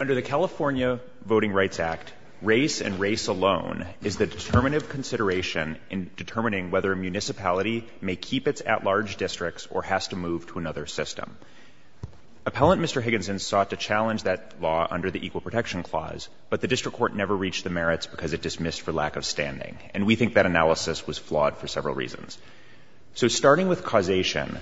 Under the California Voting Rights Act, race and race alone is the determinative consideration in determining whether a municipality may keep its at-large districts or has to move to another system. Appellant Mr. Higginson sought to challenge that law under the Equal Protection Clause, but the District Court never reached the merits because it dismissed for lack of standing. And we think that analysis was flawed for several reasons. So starting with causation,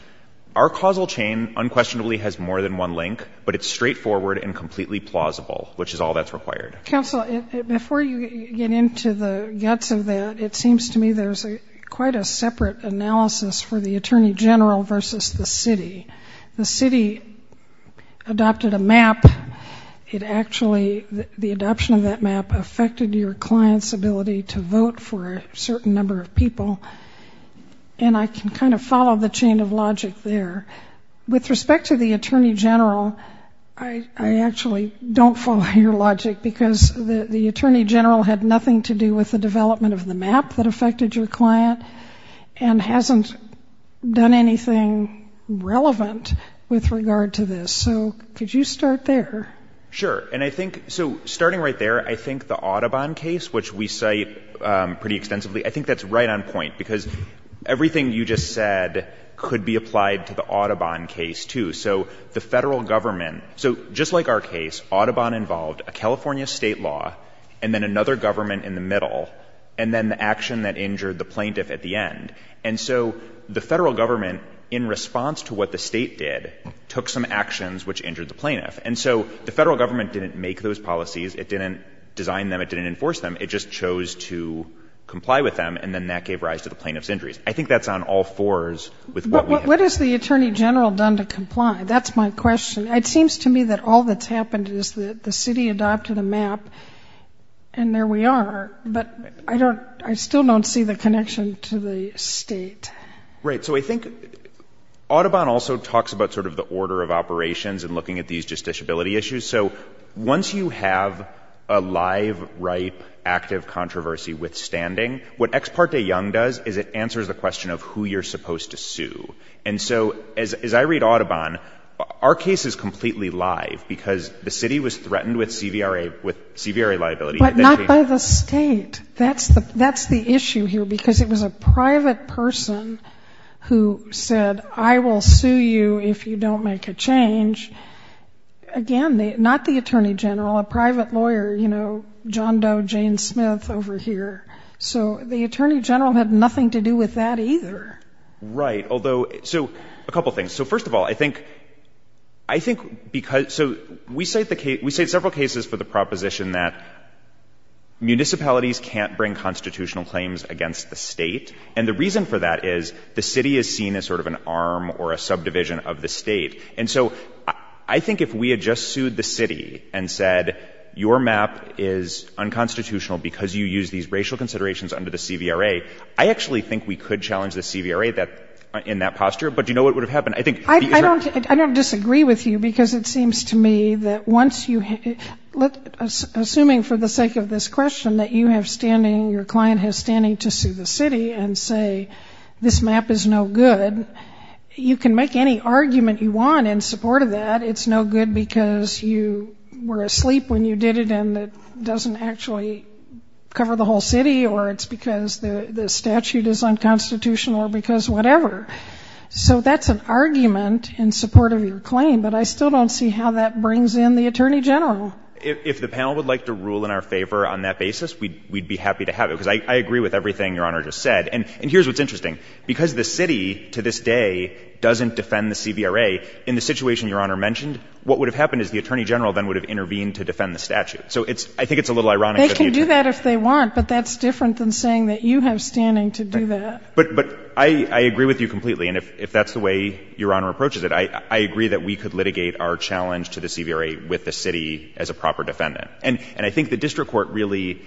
our causal chain unquestionably has more than one link, but it's straightforward and completely plausible, which is all that's required. Counsel, before you get into the guts of that, it seems to me there's quite a separate analysis for the Attorney General versus the city. The city adopted a map. It actually, the adoption of that map affected your client's ability to vote for a certain number of people. And I can kind of follow the chain of logic there. With respect to the Attorney General, I actually don't follow your logic, because the Attorney General had nothing to do with the development of the map that affected your client, and hasn't done anything relevant with regard to this. So could you start there? Sure. And I think, so starting right there, I think the Audubon case, which we cite pretty down point, because everything you just said could be applied to the Audubon case too. So the Federal Government, so just like our case, Audubon involved a California State law, and then another government in the middle, and then the action that injured the plaintiff at the end. And so the Federal Government, in response to what the State did, took some actions which injured the plaintiff. And so the Federal Government didn't make those policies. It didn't design them. It didn't enforce them. It just chose to comply with them, and then that gave rise to the plaintiff's injuries. I think that's on all fours with what we have. What has the Attorney General done to comply? That's my question. It seems to me that all that's happened is that the City adopted a map, and there we are. But I don't, I still don't see the connection to the State. Right. So I think Audubon also talks about sort of the order of operations and looking at these justiciability issues. So once you have a live, ripe, active controversy withstanding, what Ex Parte Young does is it answers the question of who you're supposed to sue. And so, as I read Audubon, our case is completely live, because the City was threatened with CVRA, with CVRA liability. But not by the State. That's the, that's the issue here, because it was a private person who said, I will sue you if you don't make a change. Again, not the Attorney General, a private lawyer, you know, John Doe, Jane Smith over here. So the Attorney General had nothing to do with that either. Right. Although, so a couple things. So first of all, I think, I think because, so we cite the case, we cite several cases for the proposition that municipalities can't bring constitutional claims against the State. And the reason for that is the City is seen as sort of an arm or a subdivision of the State. And so I think if we had just sued the City and said, your map is unconstitutional because you use these racial considerations under the CVRA, I actually think we could challenge the CVRA that, in that posture. But do you know what would have happened? I think... I don't, I don't disagree with you, because it seems to me that once you, assuming for the sake of this question, that you have standing, your client has standing to sue the City and say, this map is no good, you can make any argument you want in support of that. It's no good because you were asleep when you did it and it doesn't actually cover the whole City, or it's because the statute is unconstitutional, or because whatever. So that's an argument in support of your claim. But I still don't see how that brings in the Attorney General. If the panel would like to rule in our favor on that basis, we'd be happy to have it, because I agree with everything Your Honor just said. And here's what's interesting. Because the City, to this day, doesn't defend the CVRA, in the situation Your Honor mentioned, what would have happened is the Attorney General then would have intervened to defend the statute. So it's, I think it's a little ironic that the Attorney... They can do that if they want, but that's different than saying that you have standing to do that. But I agree with you completely. And if that's the way Your Honor approaches it, I agree that we could litigate our challenge to the CVRA with the City as a proper defendant. And I think the District Court really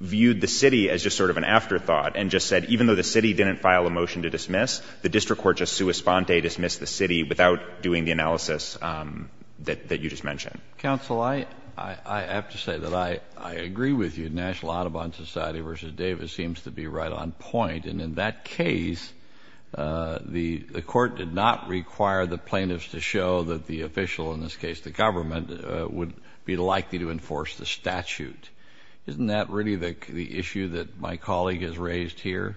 viewed the City as just sort of an afterthought, and just said, even though the City didn't file a motion to dismiss, the District Court just sua sponte dismissed the City without doing the analysis that you just mentioned. Counsel, I have to say that I agree with you. National Audubon Society v. Davis seems to be right on point. And in that case, the Court did not require the plaintiffs to show that the official, in this case the government, would be likely to enforce the statute. Isn't that really the issue that my colleague has raised here?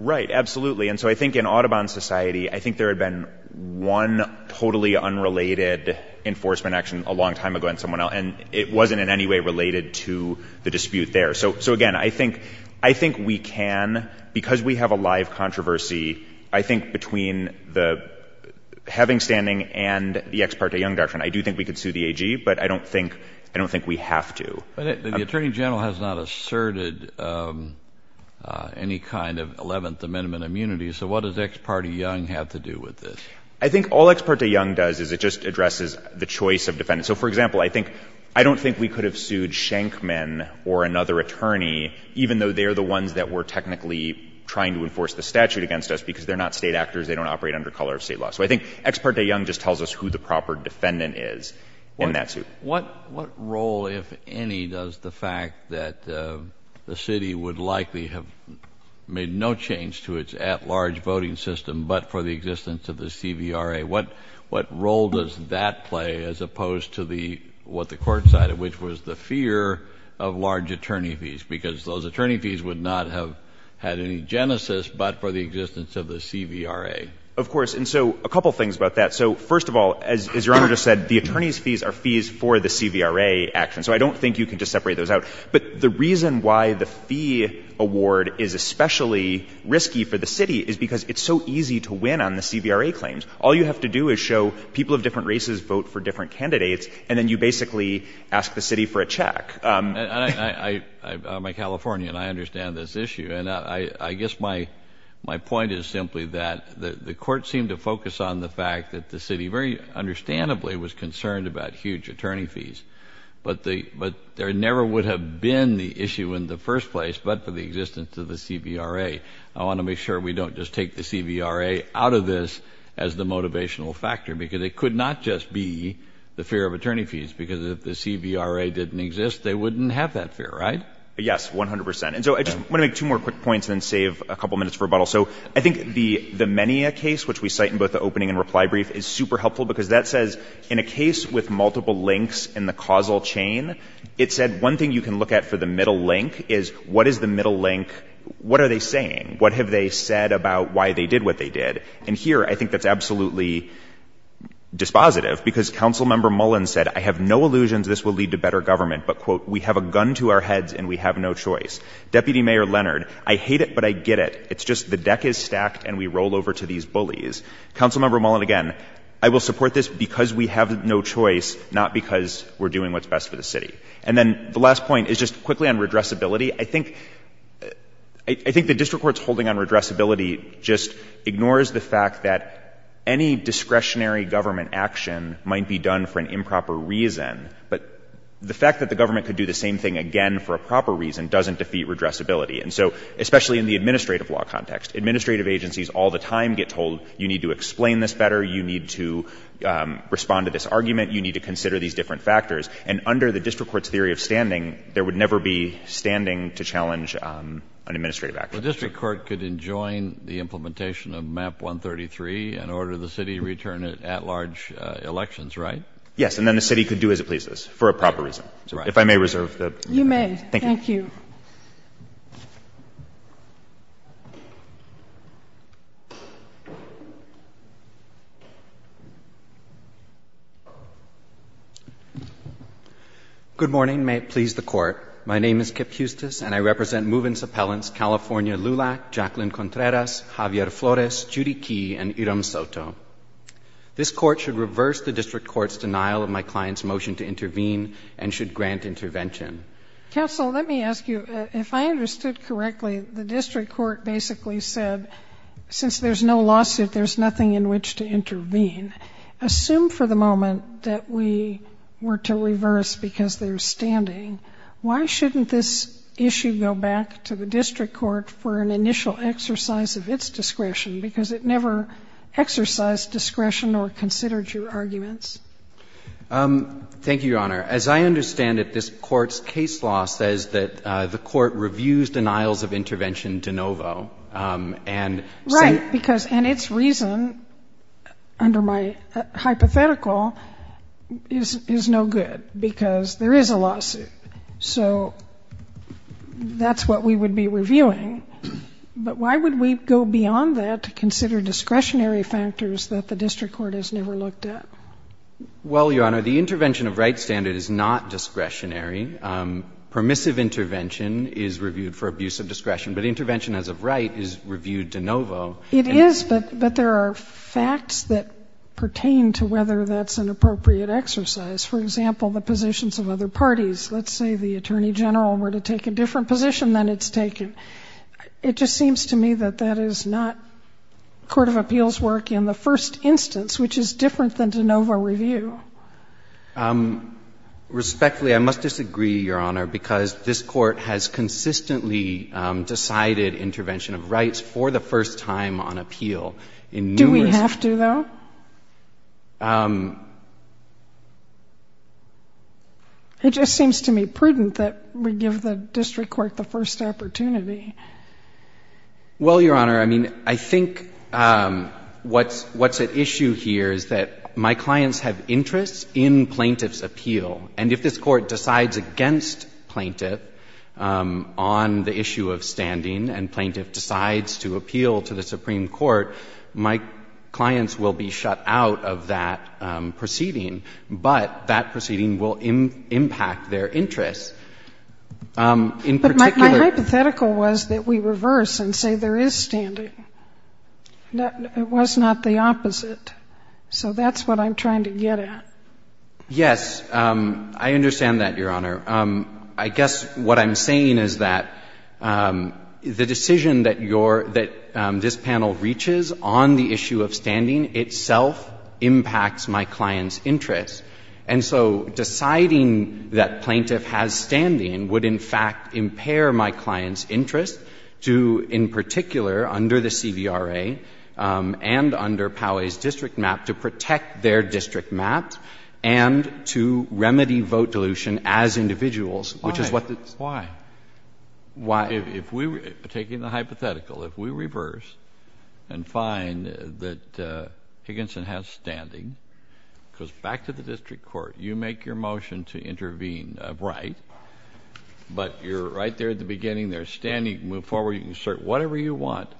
Right, absolutely. And so I think in Audubon Society, I think there had been one totally unrelated enforcement action a long time ago, and it wasn't in any way related to the dispute there. So again, I think we can, because we have a live controversy, I think between the having standing and the Ex parte Young doctrine, I do think we could sue the AG, but I don't think we have to. But the Attorney General has not asserted any kind of Eleventh Amendment immunity, so what does Ex parte Young have to do with this? I think all Ex parte Young does is it just addresses the choice of defendant. So, for even though they're the ones that were technically trying to enforce the statute against us, because they're not State actors, they don't operate under color of State law. So I think Ex parte Young just tells us who the proper defendant is in that suit. What role, if any, does the fact that the City would likely have made no change to its at-large voting system but for the existence of the CVRA, what role does that play as opposed to what the Court decided, which was the fear of large attorney fees, because those attorney fees would not have had any genesis but for the existence of the CVRA? Of course. And so a couple things about that. So, first of all, as Your Honor just said, the attorney's fees are fees for the CVRA action. So I don't think you can just separate those out. But the reason why the fee award is especially risky for the City is because it's so easy to win on the CVRA claims. All you have to do is show people of different candidates, and then you basically ask the City for a check. I'm a Californian. I understand this issue. And I guess my point is simply that the Court seemed to focus on the fact that the City very understandably was concerned about huge attorney fees. But there never would have been the issue in the first place but for the existence of the CVRA. I want to make sure we don't just take the CVRA out of this as the motivational factor, because it could not just be the fear of attorney fees, because if the CVRA didn't exist, they wouldn't have that fear, right? Yes, 100%. And so I just want to make two more quick points and then save a couple minutes for rebuttal. So I think the Menia case, which we cite in both the opening and reply brief, is super helpful because that says in a case with multiple links in the causal chain, it said one thing you can look at for the middle link is what is the middle link, what are they saying, what have they said about why they did what they did. And here I think that's absolutely dispositive because Council Member Mullin said, I have no illusions this will lead to better government, but we have a gun to our heads and we have no choice. Deputy Mayor Leonard, I hate it but I get it. It's just the deck is stacked and we roll over to these bullies. Council Member Mullin again, I will support this because we have no choice, And then the last point is just quickly on redressability. I think the district court's holding on redressability just ignores the fact that any discretionary government action might be done for an improper reason, but the fact that the government could do the same thing again for a proper reason doesn't defeat redressability. And so especially in the administrative law context, administrative agencies all the time get told you need to explain this better, you need to respond to this argument, you need to consider these different factors. And under the district court's theory of standing, there would never be standing to challenge an administrative action. The district court could enjoin the implementation of MAP 133 and order the city to return it at large elections, right? Yes, and then the city could do as it pleases for a proper reason. If I may reserve the opportunity. You may. Thank you. Thank you. Good morning. May it please the Court. My name is Kip Eustice, and I represent Movence Appellants California Lulac, Jacqueline Contreras, Javier Flores, Judy Key, and Iram Soto. This Court should reverse the district court's denial of my client's motion to intervene and should grant intervention. Counsel, let me ask you, if I understood correctly, the district court basically said, since there's no lawsuit, there's nothing in which to intervene. Assume for the moment that we were to reverse because there's standing. Why shouldn't this issue go back to the district court for an initial exercise of its discretion, because it never exercised discretion or considered your arguments? Thank you, Your Honor. As I understand it, this Court's case law says that the Court reviews denials of intervention de novo and Right, because, and its reason, under my hypothetical, is no good, because there is a lawsuit. So that's what we would be reviewing. But why would we go beyond that to consider discretionary factors that the district court has never looked at? Well, Your Honor, the intervention of Right standard is not discretionary. Permissive intervention is reviewed for abuse of discretion, but intervention as of Right is reviewed de novo. It is, but there are facts that pertain to whether that's an appropriate exercise. For example, the positions of other parties. Let's say the Attorney General were to take a different position than it's taken. It just seems to me that that is not Court of Appeals' work in the first instance, which is different than de novo review. Respectfully, I must disagree, Your Honor, because this Court has consistently decided intervention of Right for the first time on appeal in numerous cases. Do we have to, though? It just seems to me prudent that we give the district court the first opportunity. Well, Your Honor, I mean, I think what's at issue here is that my clients have interests in plaintiff's appeal. And if this Court decides against plaintiff on the issue of standing and plaintiff decides to appeal to the Supreme Court, my clients will be shut out of that proceeding. But that proceeding will impact their interests. In particular But my hypothetical was that we reverse and say there is standing. It was not the opposite. So that's what I'm trying to get at. Yes. I understand that, Your Honor. I guess what I'm saying is that there is a standing The decision that your — that this panel reaches on the issue of standing itself impacts my client's interests. And so deciding that plaintiff has standing would, in fact, impair my client's interest to, in particular, under the CVRA and under Poway's district map, to protect their district map and to remedy vote dilution as individuals, which is what the Why? Why? Why? If we were taking the hypothetical, if we reverse and find that Higginson has standing, it goes back to the district court. You make your motion to intervene, right? But you're right there at the beginning. There's standing. You can move forward. You can assert whatever you want.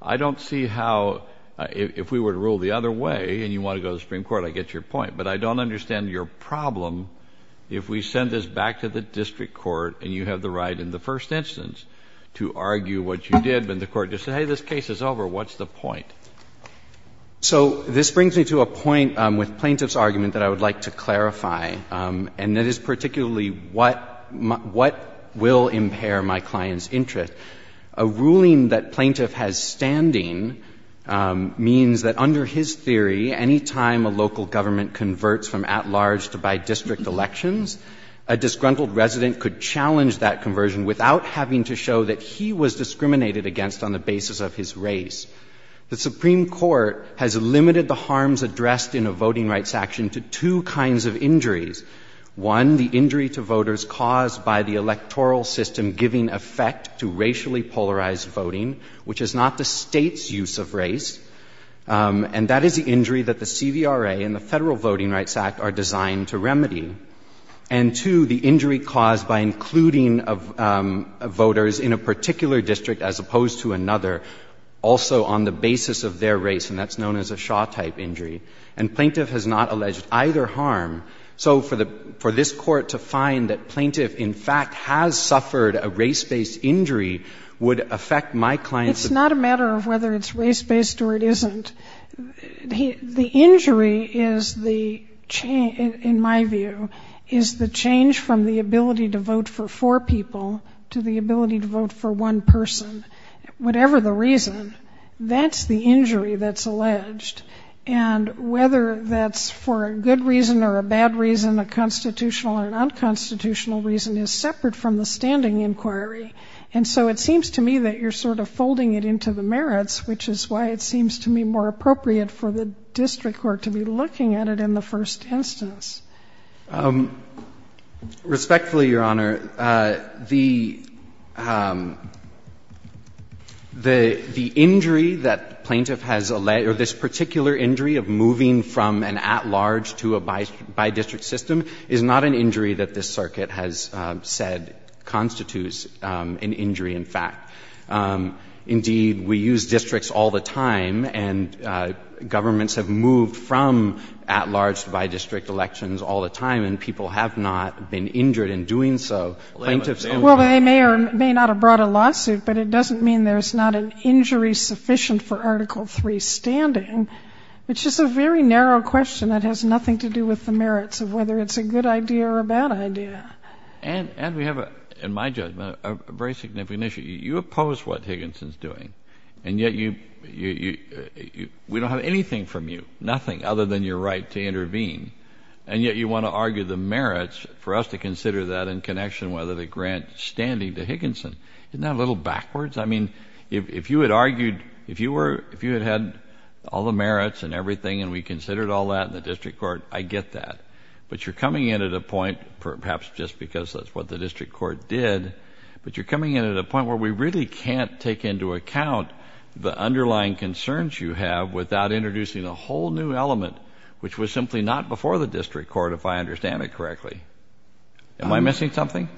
I don't see how — if we were to rule the other way and you want to go to the Supreme Court, I get your point. But I don't understand your problem if we send this back to the district court and you have the right in the first instance to argue what you did, but the court just said, hey, this case is over. What's the point? So this brings me to a point with Plaintiff's argument that I would like to clarify, and that is particularly what — what will impair my client's interest. A ruling that plaintiff has standing means that under his theory, any time a local government converts from at-large to by district elections, a disgruntled resident could challenge that conversion without having to show that he was discriminated against on the basis of his race. The Supreme Court has limited the harms addressed in a voting rights action to two kinds of injuries. One, the injury to voters caused by the electoral system giving effect to racially polarized voting, which is not the State's use of race. And that is the injury that the Voting Rights Act are designed to remedy. And two, the injury caused by including voters in a particular district as opposed to another, also on the basis of their race, and that's known as a Shaw-type injury. And Plaintiff has not alleged either harm. So for the — for this Court to find that Plaintiff in fact has suffered a race-based injury would affect my client's — the injury is the — in my view, is the change from the ability to vote for four people to the ability to vote for one person. Whatever the reason, that's the injury that's alleged. And whether that's for a good reason or a bad reason, a constitutional or an unconstitutional reason is separate from the standing inquiry. And so it seems to me that you're sort of appropriate for the district court to be looking at it in the first instance. Respectfully, Your Honor, the — the injury that Plaintiff has alleged, or this particular injury of moving from an at-large to a bi-district system is not an injury that this circuit has said constitutes an injury, in fact. Indeed, we use districts all the time, and governments have moved from at-large to bi-district elections all the time, and people have not been injured in doing so. Plaintiff's — Well, they may or may not have brought a lawsuit, but it doesn't mean there's not an injury sufficient for Article III standing, which is a very narrow question that has nothing to do with the merits of whether it's a good idea or a bad idea. And — and we have, in my judgment, a very significant issue. You oppose what Higginson's doing, and yet you — we don't have anything from you, nothing other than your right to intervene, and yet you want to argue the merits for us to consider that in connection with a grant standing to Higginson. Isn't that a little backwards? I mean, if you had argued — if you were — if you had had all the merits and everything and we considered all that in the district court, I get that. But you're coming in at a point, perhaps just because that's what the district court did, but you're coming in at a point where we really can't take into account the underlying concerns you have without introducing a whole new element, which was simply not before the district court, if I understand it correctly. Am I missing something?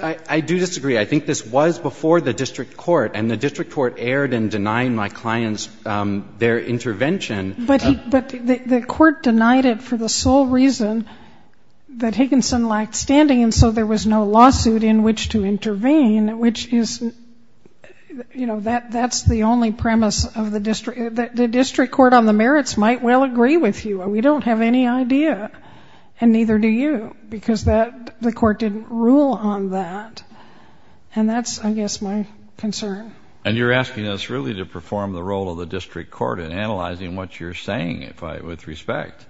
I — I do disagree. I think this was before the district court, and the district court erred in denying my clients their intervention. But he — but the — the court denied it for the sole reason that Higginson lacked standing, and so there was no lawsuit in which to intervene, which is — you know, that — that's the only premise of the district — the district court on the merits might well agree with you. We don't have any idea, and neither do you, because that — the court didn't rule on that. And that's, I guess, my concern. And you're asking us really to perform the role of the district court in analyzing what you're saying, if I — with respect.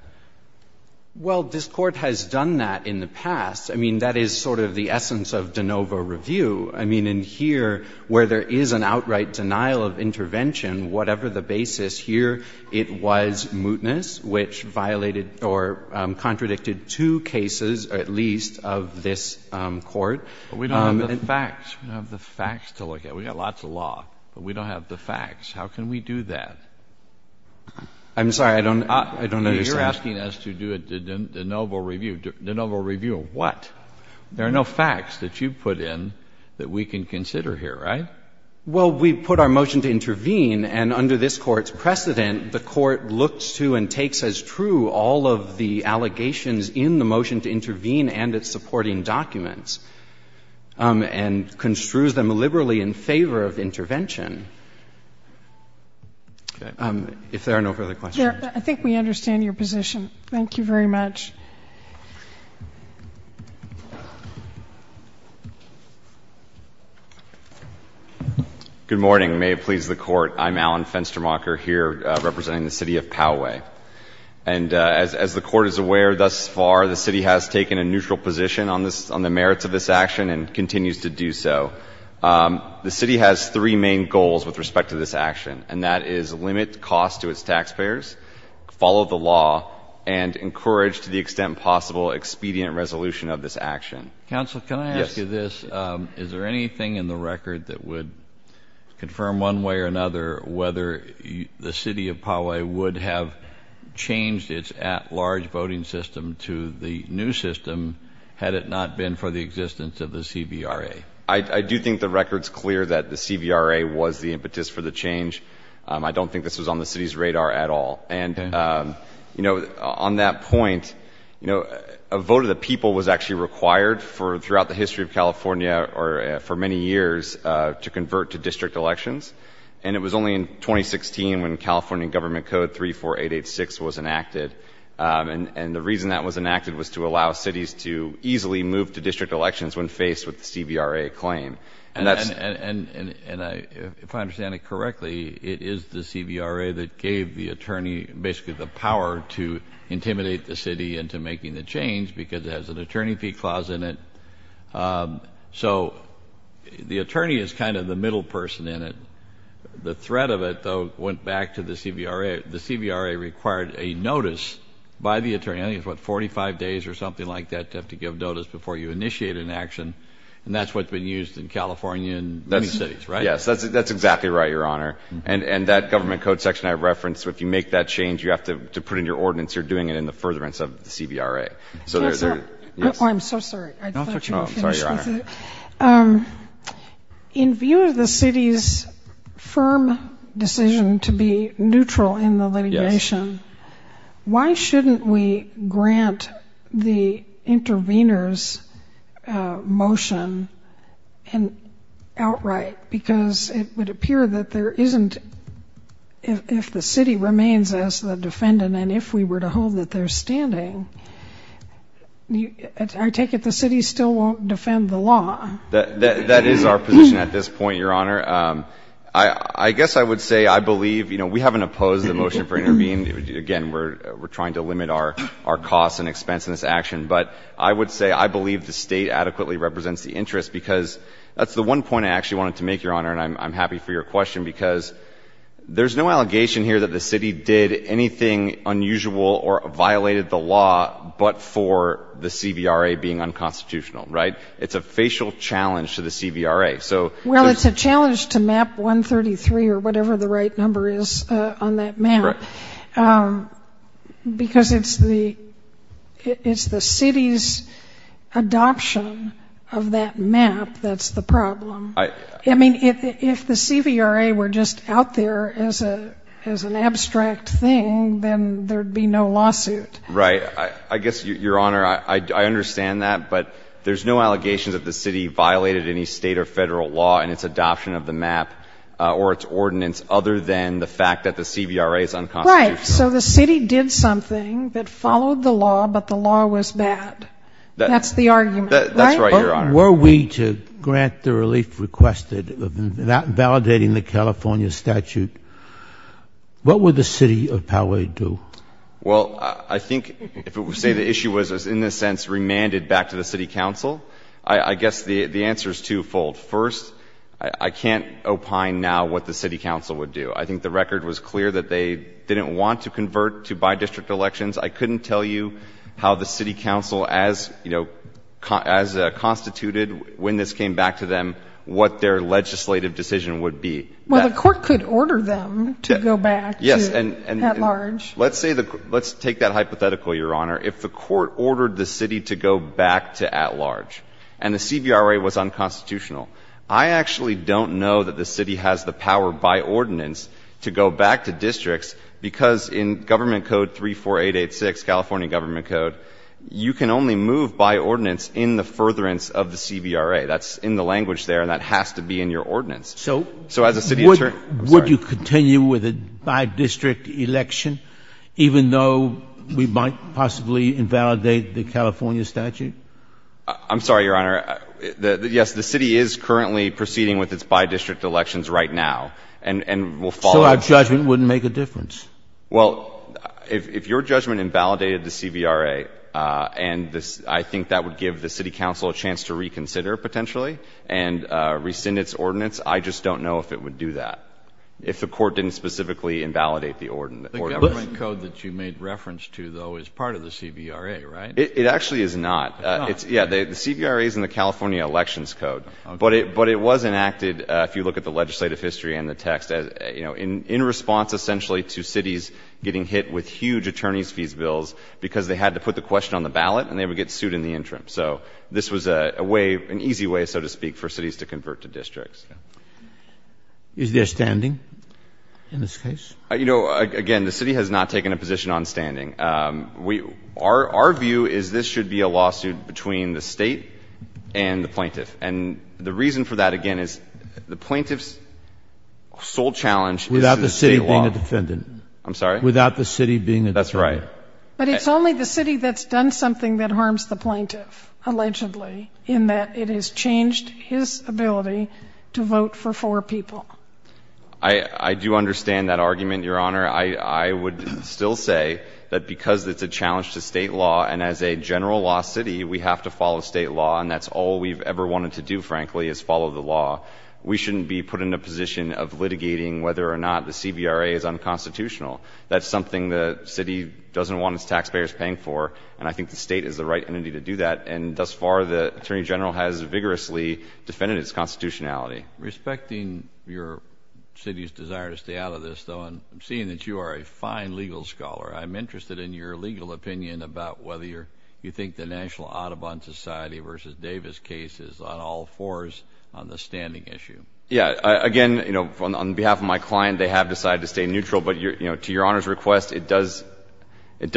Well, this Court has done that in the past. I mean, that is sort of the essence of de novo review. I mean, in here, where there is an outright denial of intervention, whatever the basis here, it was mootness, which violated or contradicted two cases, at least, of this Court. But we don't have the facts. We don't have the facts to look at. We've got lots of law, but we don't have the facts. How can we do that? I'm sorry. I don't — I don't understand. You're asking us to do a de novo review. De novo review of what? There are no facts that you put in that we can consider here, right? Well, we put our motion to intervene, and under this Court's precedent, the Court looks to and takes as true all of the allegations in the motion to intervene and its supporting documents, and construes them liberally in favor of intervention. Okay. If there are no further questions. I think we understand your position. Thank you very much. Good morning. May it please the Court, I'm Alan Fenstermacher here representing the City of Poway. And as the Court is aware thus far, the City has taken a neutral position on the merits of this action and continues to do so. The City has three main goals with respect to this action, and that is limit cost to its taxpayers, follow the law, and encourage to the extent possible expedient resolution of this action. Counsel, can I ask you this? Is there anything in the record that would confirm one way or another whether the City of Poway would have changed its at-large voting system to the new system had it not been for the existence of the CVRA? I do think the record is clear that the CVRA was the impetus for the change. I don't think this was on the City's radar at all. And on that point, a vote of the people was actually required throughout the history of California for many years to convert to district elections. And it was only in 2016 when California Government Code 34886 was enacted. And the reason that was enacted was to allow the City of Poway to have a say in the CVRA claim. And if I understand it correctly, it is the CVRA that gave the attorney basically the power to intimidate the City into making the change because it has an attorney fee clause in it. So the attorney is kind of the middle person in it. The threat of it, though, went back to the CVRA. The CVRA required a notice by the attorney. I think it was 45 days or something like that to have to give notice before you initiated an action. And that's what's been used in California and many cities, right? Yes, that's exactly right, Your Honor. And that Government Code section I referenced, if you make that change, you have to put in your ordinance. You're doing it in the furtherance of the CVRA. I'm so sorry. I thought you were finished. Oh, I'm sorry, Your Honor. In view of the City's firm decision to be neutral in the litigation, why shouldn't we grant the intervener's motion outright? Because it would appear that if the City remains as the defendant and if we were to hold that they're standing, I take it the City still won't defend the law. That is our position at this point, Your Honor. I guess I would say I believe we haven't opposed the motion for intervening. Again, we're trying to limit our costs and expense in this action. But I would say I believe the State adequately represents the interest, because that's the one point I actually wanted to make, Your Honor, and I'm happy for your question, because there's no allegation here that the City did anything unusual or violated the law but for the CVRA being unconstitutional, right? It's a facial challenge to the CVRA. Well, it's a challenge to Map 133 or whatever the right number is on that map. Right. Because it's the City's adoption of that map that's the problem. I mean, if the CVRA were just out there as an abstract thing, then there would be no lawsuit. Right. I guess, Your Honor, I understand that, but there's no allegation that the City violated Federal law in its adoption of the map or its ordinance other than the fact that the CVRA is unconstitutional. Right. So the City did something that followed the law, but the law was bad. That's the argument, right? That's right, Your Honor. Were we to grant the relief requested without validating the California statute, what would the City of Poway do? Well, I think if it were to say the issue was in this sense remanded back to the City Council, I guess the answer is twofold. First, I can't opine now what the City Council would do. I think the record was clear that they didn't want to convert to by-district elections. I couldn't tell you how the City Council, as, you know, as constituted when this came back to them, what their legislative decision would be. Well, the Court could order them to go back to at-large. Yes, and let's take that hypothetical, Your Honor. If the Court ordered the City to go back to at-large and the CVRA was unconstitutional, I actually don't know that the City has the power by ordinance to go back to districts, because in Government Code 34886, California Government Code, you can only move by ordinance in the furtherance of the CVRA. That's in the language there, and that has to be in your ordinance. So would you continue with a by-district election, even though we might possibly invalidate the California statute? I'm sorry, Your Honor. Yes, the City is currently proceeding with its by-district elections right now, and we'll follow that. So our judgment wouldn't make a difference? Well, if your judgment invalidated the CVRA, and I think that would give the City Council a chance to reconsider potentially and rescind its ordinance, I just don't know if it would do that, if the Court didn't specifically invalidate the ordinance. The Government Code that you made reference to, though, is part of the CVRA, right? It actually is not. It's not? Yeah, the CVRA is in the California Elections Code. Okay. But it was enacted, if you look at the legislative history and the text, you know, in response essentially to cities getting hit with huge attorneys' fees bills because they had to put the question on the ballot and they would get sued in the interim. So this was a way, an easy way, so to speak, for cities to convert to districts. Is there standing in this case? You know, again, the City has not taken a position on standing. Our view is this should be a lawsuit between the State and the plaintiff. And the reason for that, again, is the plaintiff's sole challenge is the State law. Without the City being a defendant. I'm sorry? Without the City being a defendant. That's right. But it's only the City that's done something that harms the plaintiff, allegedly, in that it has changed his ability to vote for four people. I do understand that argument, Your Honor. I would still say that because it's a challenge to State law, and as a general law city, we have to follow State law, and that's all we've ever wanted to do, frankly, is follow the law. We shouldn't be put in a position of litigating whether or not the CBRA is unconstitutional. That's something the City doesn't want its taxpayers paying for, and I think the State is the right entity to do that. And thus far, the Attorney General has vigorously defended its constitutionality. Respecting your City's desire to stay out of this, though, and seeing that you are a fine legal scholar, I'm interested in your legal opinion about whether you think the National Audubon Society v. Davis case is on all fours on the standing issue. Yeah. Again, you know, on behalf of my client, they have decided to stay neutral. But, you know, to Your Honor's request, it does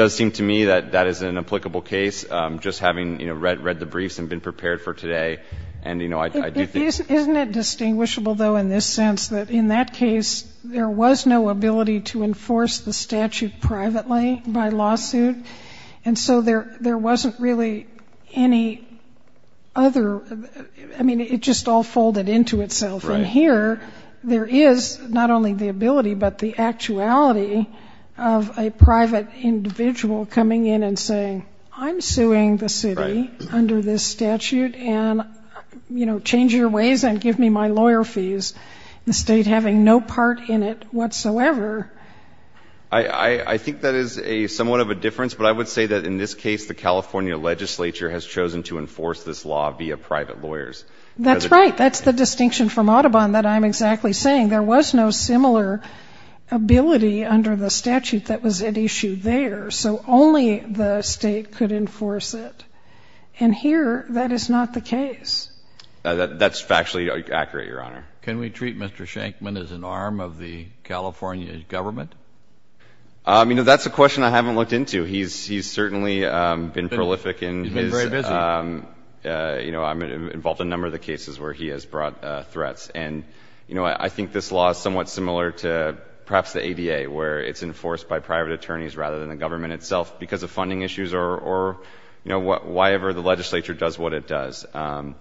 seem to me that that is an applicable case, just having, you know, read the briefs and been prepared for today. And, you know, I do think Isn't it distinguishable, though, in this sense that in that case, there was no ability to enforce the statute privately by lawsuit? And so there wasn't really any other, I mean, it just all folded into itself. Right. And here, there is not only the ability, but the actuality of a private individual coming in and saying, I'm suing the city under this statute, and, you know, change your ways and give me my lawyer fees. The state having no part in it whatsoever. I think that is somewhat of a difference, but I would say that in this case, the California legislature has chosen to enforce this law via private lawyers. That's right. That's the distinction from Audubon that I'm exactly saying. There was no similar ability under the statute that was at issue there. So only the state could enforce it. And here, that is not the case. That's factually accurate, Your Honor. Can we treat Mr. Shankman as an arm of the California government? I mean, that's a question I haven't looked into. He's certainly been prolific in his. He's been very busy. You know, I'm involved in a number of the cases where he has brought threats. And, you know, I think this law is somewhat similar to perhaps the ADA, where it's enforced by private attorneys rather than the government itself because of funding issues or, you know, whyever the legislature does what it does. And,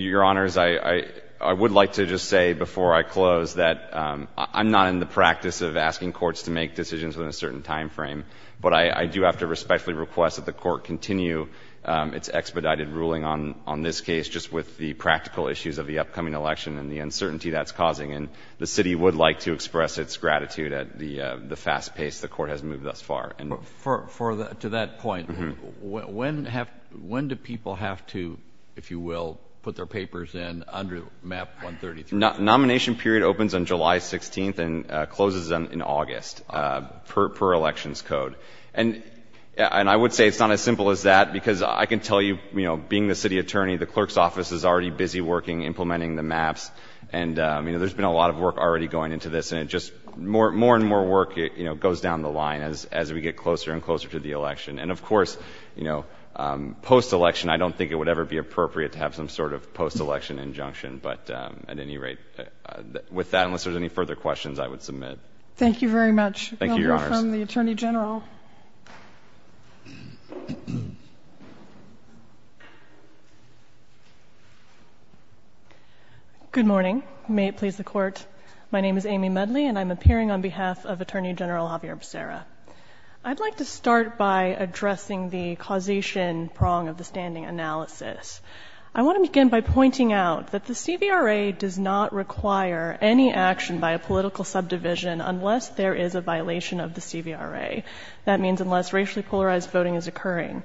Your Honors, I would like to just say before I close that I'm not in the practice of asking courts to make decisions within a certain time frame, but I do have to respectfully request that the court continue its expedited ruling on this case just with the practical issues of the upcoming election and the uncertainty that's causing. And the city would like to express its gratitude at the fast pace the court has moved thus far. To that point, when do people have to, if you will, put their papers in under Map 133? Nomination period opens on July 16th and closes in August per elections code. And I would say it's not as simple as that because I can tell you, you know, being the city attorney, the clerk's office is already busy working, implementing the maps. And, you know, there's been a lot of work already going into this and it just more and more work, you know, goes down the line as we get closer and closer to the election. And, of course, you know, post-election, I don't think it would ever be appropriate to have some sort of post-election injunction. But at any rate, with that, unless there's any further questions, I would submit. Thank you very much. Thank you, Your Honors. We'll go from the Attorney General. Good morning. May it please the Court. My name is Amy Medley and I'm appearing on behalf of Attorney General Javier Becerra. I'd like to start by addressing the causation prong of the standing analysis. I want to begin by pointing out that the CVRA does not require any action by a political subdivision unless there is a violation of the CVRA. That means unless racially polarized voting is occurring.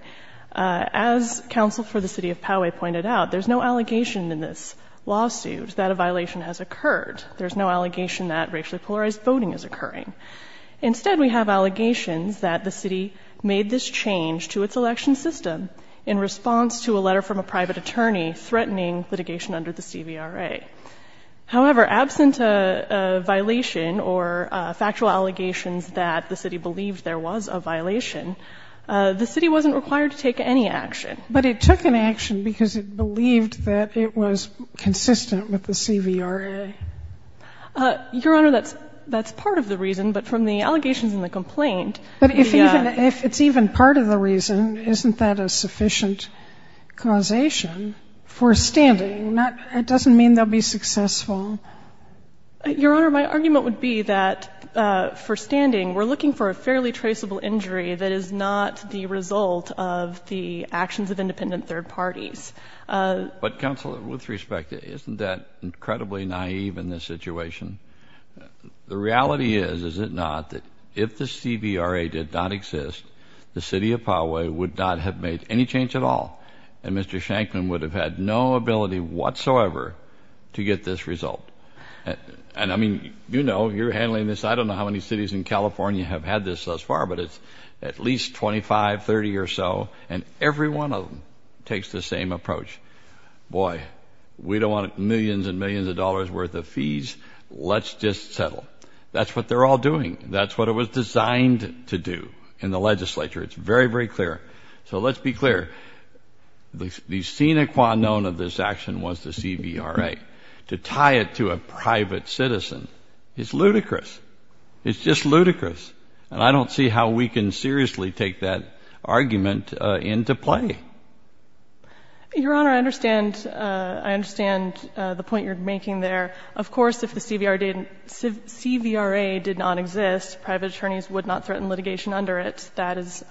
As counsel for the city of Poway pointed out, there's no allegation in this lawsuit that a violation has occurred. There's no allegation that racially polarized voting is occurring. Instead, we have allegations that the city made this change to its election system in response to a letter from a private attorney threatening litigation under the CVRA. However, absent a violation or factual allegations that the city believed there was a violation, the city wasn't required to take any action. But it took an action because it believed that it was consistent with the CVRA. Your Honor, that's part of the reason. But from the allegations in the complaint, the ---- But if it's even part of the reason, isn't that a sufficient causation for standing? It doesn't mean they'll be successful. Your Honor, my argument would be that for standing, we're looking for a fairly traceable injury that is not the result of the actions of independent third parties. But counsel, with respect, isn't that incredibly naive in this situation? The reality is, is it not, that if the CVRA did not exist, the city of Poway would not have made any change at all, and Mr. Shankman would have had no ability whatsoever to get this result. And, I mean, you know, you're handling this. I don't know how many cities in California have had this thus far, but it's at least 25, 30 or so, and every one of them takes the same approach. Boy, we don't want millions and millions of dollars worth of fees. Let's just settle. That's what they're all doing. That's what it was designed to do in the legislature. It's very, very clear. So let's be clear. The sine qua non of this action was the CVRA. To tie it to a private citizen is ludicrous. It's just ludicrous. And I don't see how we can seriously take that argument into play. Your Honor, I understand. I understand the point you're making there. Of course, if the CVRA did not exist, private attorneys would not threaten litigation under it. That is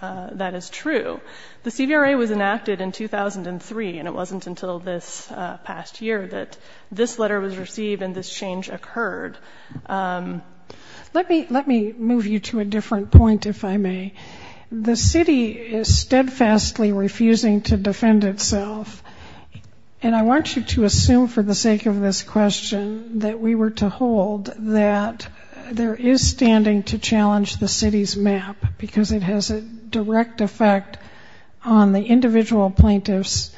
true. The CVRA was enacted in 2003, and it wasn't until this past year that this letter was received and this change occurred. Let me move you to a different point, if I may. The city is steadfastly refusing to defend itself, and I want you to assume for the sake of this question that we were to hold that there is standing to challenge the city's map because it has a direct effect on the individual plaintiff's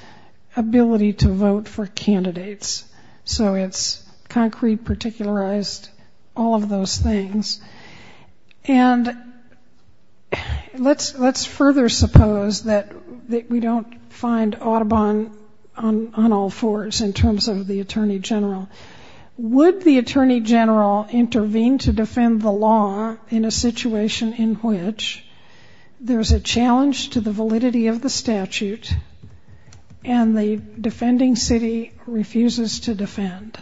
ability to vote for candidates. So it's concrete, particularized, all of those things. And let's further suppose that we don't find Audubon on all fours in terms of the Attorney General. Would the Attorney General intervene to defend the law in a situation in which there's a challenge to the validity of the statute and the defending city refuses to defend?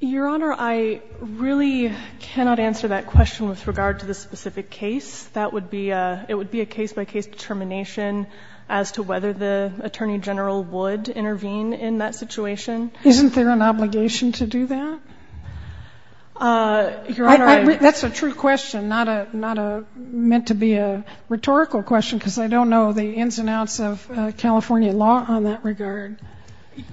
Your Honor, I really cannot answer that question with regard to the specific case. That would be a case-by-case determination as to whether the Attorney General would intervene in that situation. Isn't there an obligation to do that? That's a true question, not meant to be a rhetorical question, because I don't know the ins and outs of California law on that regard.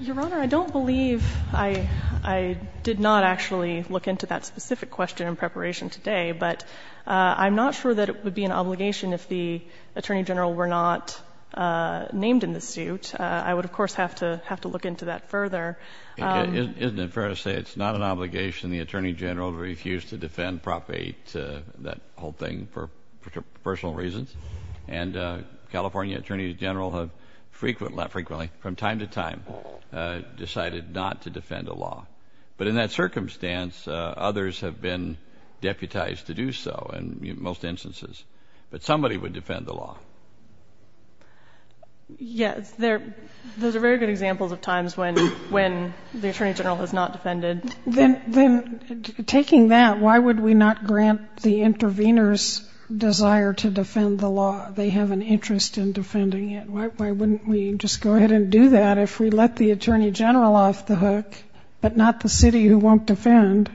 Your Honor, I don't believe I did not actually look into that specific question in preparation today, but I'm not sure that it would be an obligation if the Attorney General were not named in the suit. I would, of course, have to look into that further. Isn't it fair to say it's not an obligation the Attorney General to refuse to defend Prop 8, that whole thing, for personal reasons? And California Attorneys General have frequently, from time to time, decided not to defend a law. But in that circumstance, others have been deputized to do so in most instances. But somebody would defend the law. Yes, those are very good examples of times when the Attorney General has not defended. Then taking that, why would we not grant the intervener's desire to defend the law? They have an interest in defending it. Why wouldn't we just go ahead and do that? If we let the Attorney General off the hook, but not the city who won't defend,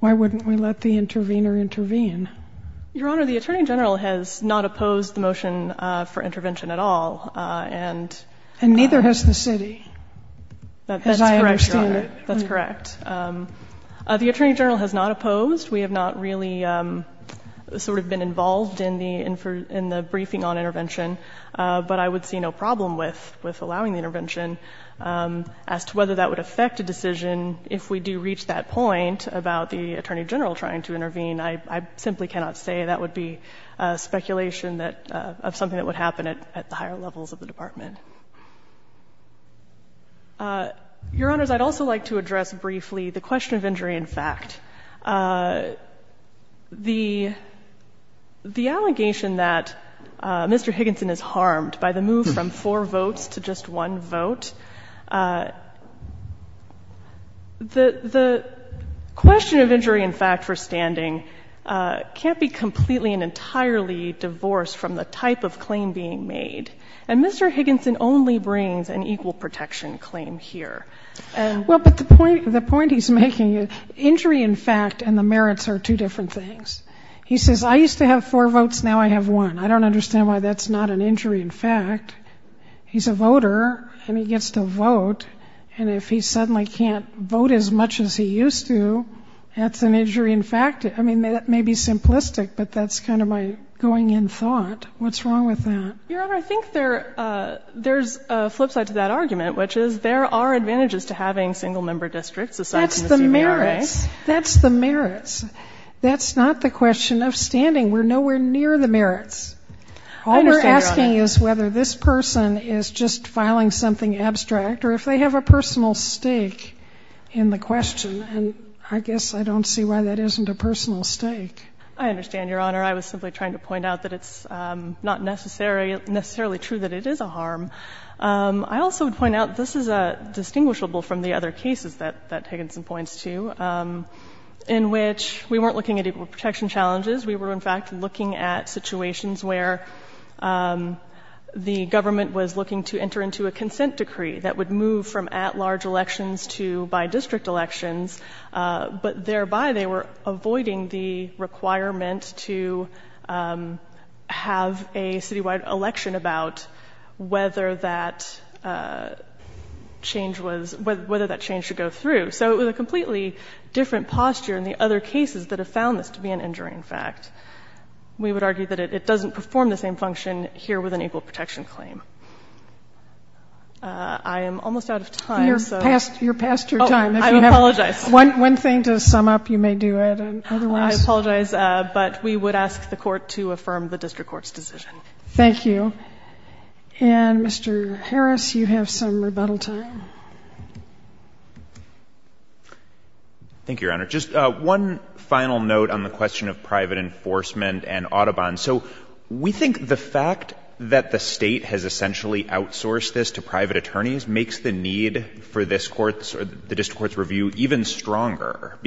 why wouldn't we let the intervener intervene? Your Honor, the Attorney General has not opposed the motion for intervention at all. And neither has the city, as I understand it. That's correct, Your Honor. That's correct. The Attorney General has not opposed. We have not really sort of been involved in the briefing on intervention. But I would see no problem with allowing the intervention. As to whether that would affect a decision, if we do reach that point about the Attorney General trying to intervene, I simply cannot say. That would be speculation of something that would happen at the higher levels of the Department. Your Honors, I'd also like to address briefly the question of injury in fact. The allegation that Mr. Higginson is harmed by the move from four votes to just one vote, the question of injury in fact for standing can't be completely and entirely divorced from the type of claim being made. And Mr. Higginson only brings an equal protection claim here. Well, but the point he's making, injury in fact and the merits are two different things. He says, I used to have four votes, now I have one. I don't understand why that's not an injury in fact. He's a voter, and he gets to vote. And if he suddenly can't vote as much as he used to, that's an injury in fact. I mean, that may be simplistic, but that's kind of my going-in thought. What's wrong with that? Your Honor, I think there's a flip side to that argument, which is there are advantages to having single-member districts assigned to the CMARA. That's the merits. That's the merits. That's not the question of standing. We're nowhere near the merits. I understand, Your Honor. All we're asking is whether this person is just filing something abstract or if they have a personal stake in the question. And I guess I don't see why that isn't a personal stake. I understand, Your Honor. I was simply trying to point out that it's not necessarily true that it is a harm. I also would point out this is distinguishable from the other cases that Higginson points to, in which we weren't looking at equal protection challenges. We were in fact looking at situations where the government was looking to enter into a consent decree that would move from at-large elections to by-district elections, but thereby they were avoiding the requirement to have a citywide election about whether that change was — whether that change should go through. So it was a completely different posture in the other cases that have found this to be an injury, in fact. We would argue that it doesn't perform the same function here with an equal protection claim. I am almost out of time. You're past your time. I apologize. One thing to sum up. You may do it otherwise. I apologize. But we would ask the Court to affirm the district court's decision. Thank you. And, Mr. Harris, you have some rebuttal time. Thank you, Your Honor. Just one final note on the question of private enforcement and Audubon. So we think the fact that the State has essentially outsourced this to private attorneys makes the need for this Court's or the district court's review even stronger,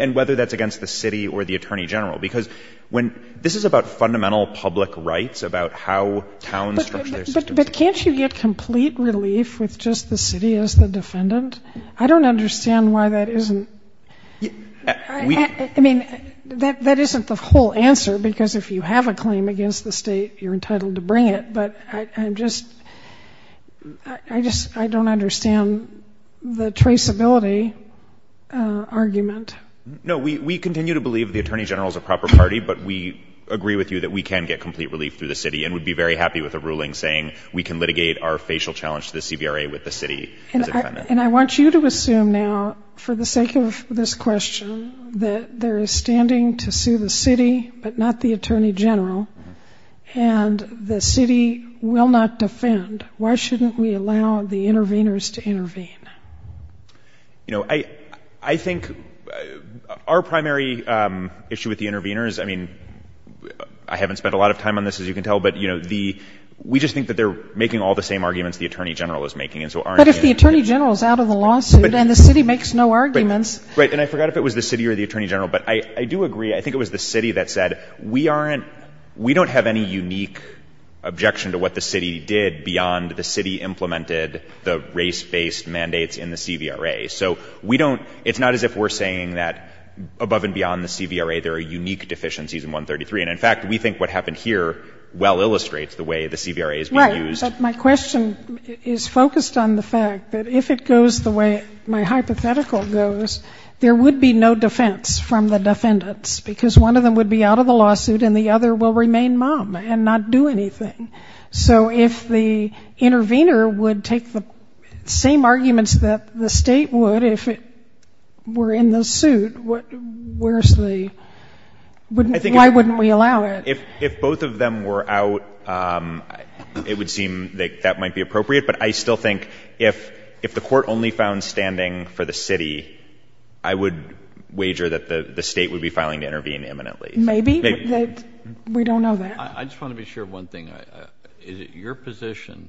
and whether that's against the city or the attorney general. Because this is about fundamental public rights, about how towns structure their systems. But can't you get complete relief with just the city as the defendant? I don't understand why that isn't — I mean, that isn't the whole answer, because if you have a claim against the State, you're entitled to bring it. But I'm just — I just — I don't understand the traceability argument. No, we continue to believe the attorney general is a proper party, but we agree with you that we can get complete relief through the city and would be very happy with a ruling saying we can litigate our facial challenge to the CBRA with the city. And I want you to assume now, for the sake of this question, that there is standing to sue the city but not the attorney general, and the city will not defend. Why shouldn't we allow the interveners to intervene? You know, I think our primary issue with the interveners — I mean, I haven't spent a lot of time on this, as you can tell, but, you know, the — we just think that they're making all the same arguments the attorney general is making. And so our — But if the attorney general is out of the lawsuit and the city makes no arguments — Right. And I forgot if it was the city or the attorney general, but I do agree. I think it was the city that said we aren't — we don't have any unique objection to what the city did beyond the city implemented the race-based mandates in the CBRA. So we don't — it's not as if we're saying that above and beyond the CBRA there are unique deficiencies in 133. And, in fact, we think what happened here well illustrates the way the CBRA is being used. Right. But my question is focused on the fact that if it goes the way my hypothetical goes, there would be no defense from the defendants because one of them would be out of the lawsuit and the other will remain mum and not do anything. So if the intervener would take the same arguments that the state would if it were in the suit, where's the — why wouldn't we allow it? If both of them were out, it would seem that that might be appropriate. But I still think if the court only found standing for the city, I would wager that the state would be filing to intervene imminently. Maybe, but we don't know that. I just want to be sure of one thing. Is it your position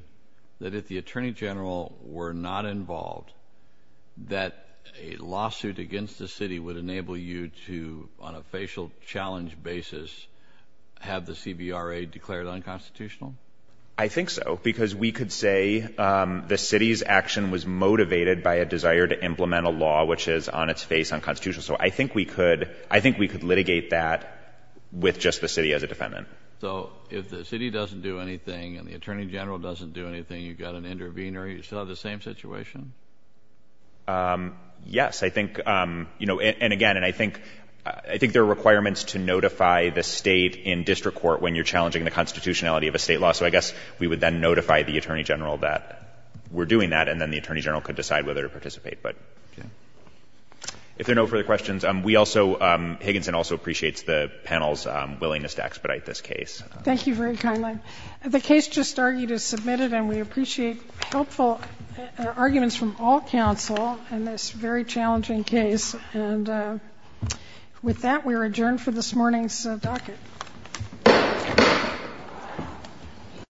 that if the attorney general were not involved, that a lawsuit against the city would enable you to, on a facial challenge basis, have the CBRA declared unconstitutional? I think so, because we could say the city's action was motivated by a desire to implement a law, which is on its face unconstitutional. So I think we could litigate that with just the city as a defendant. So if the city doesn't do anything and the attorney general doesn't do anything, you've got an intervener, you still have the same situation? Yes. I think — and again, I think there are requirements to notify the state in district court when you're challenging the constitutionality of a state law. So I guess we would then notify the attorney general that we're doing that, and then the attorney general could decide whether to participate. If there are no further questions, we also — Higginson also appreciates the panel's willingness to expedite this case. Thank you very kindly. The case just argued is submitted, and we appreciate helpful arguments from all counsel in this very challenging case. And with that, we are adjourned for this morning's docket.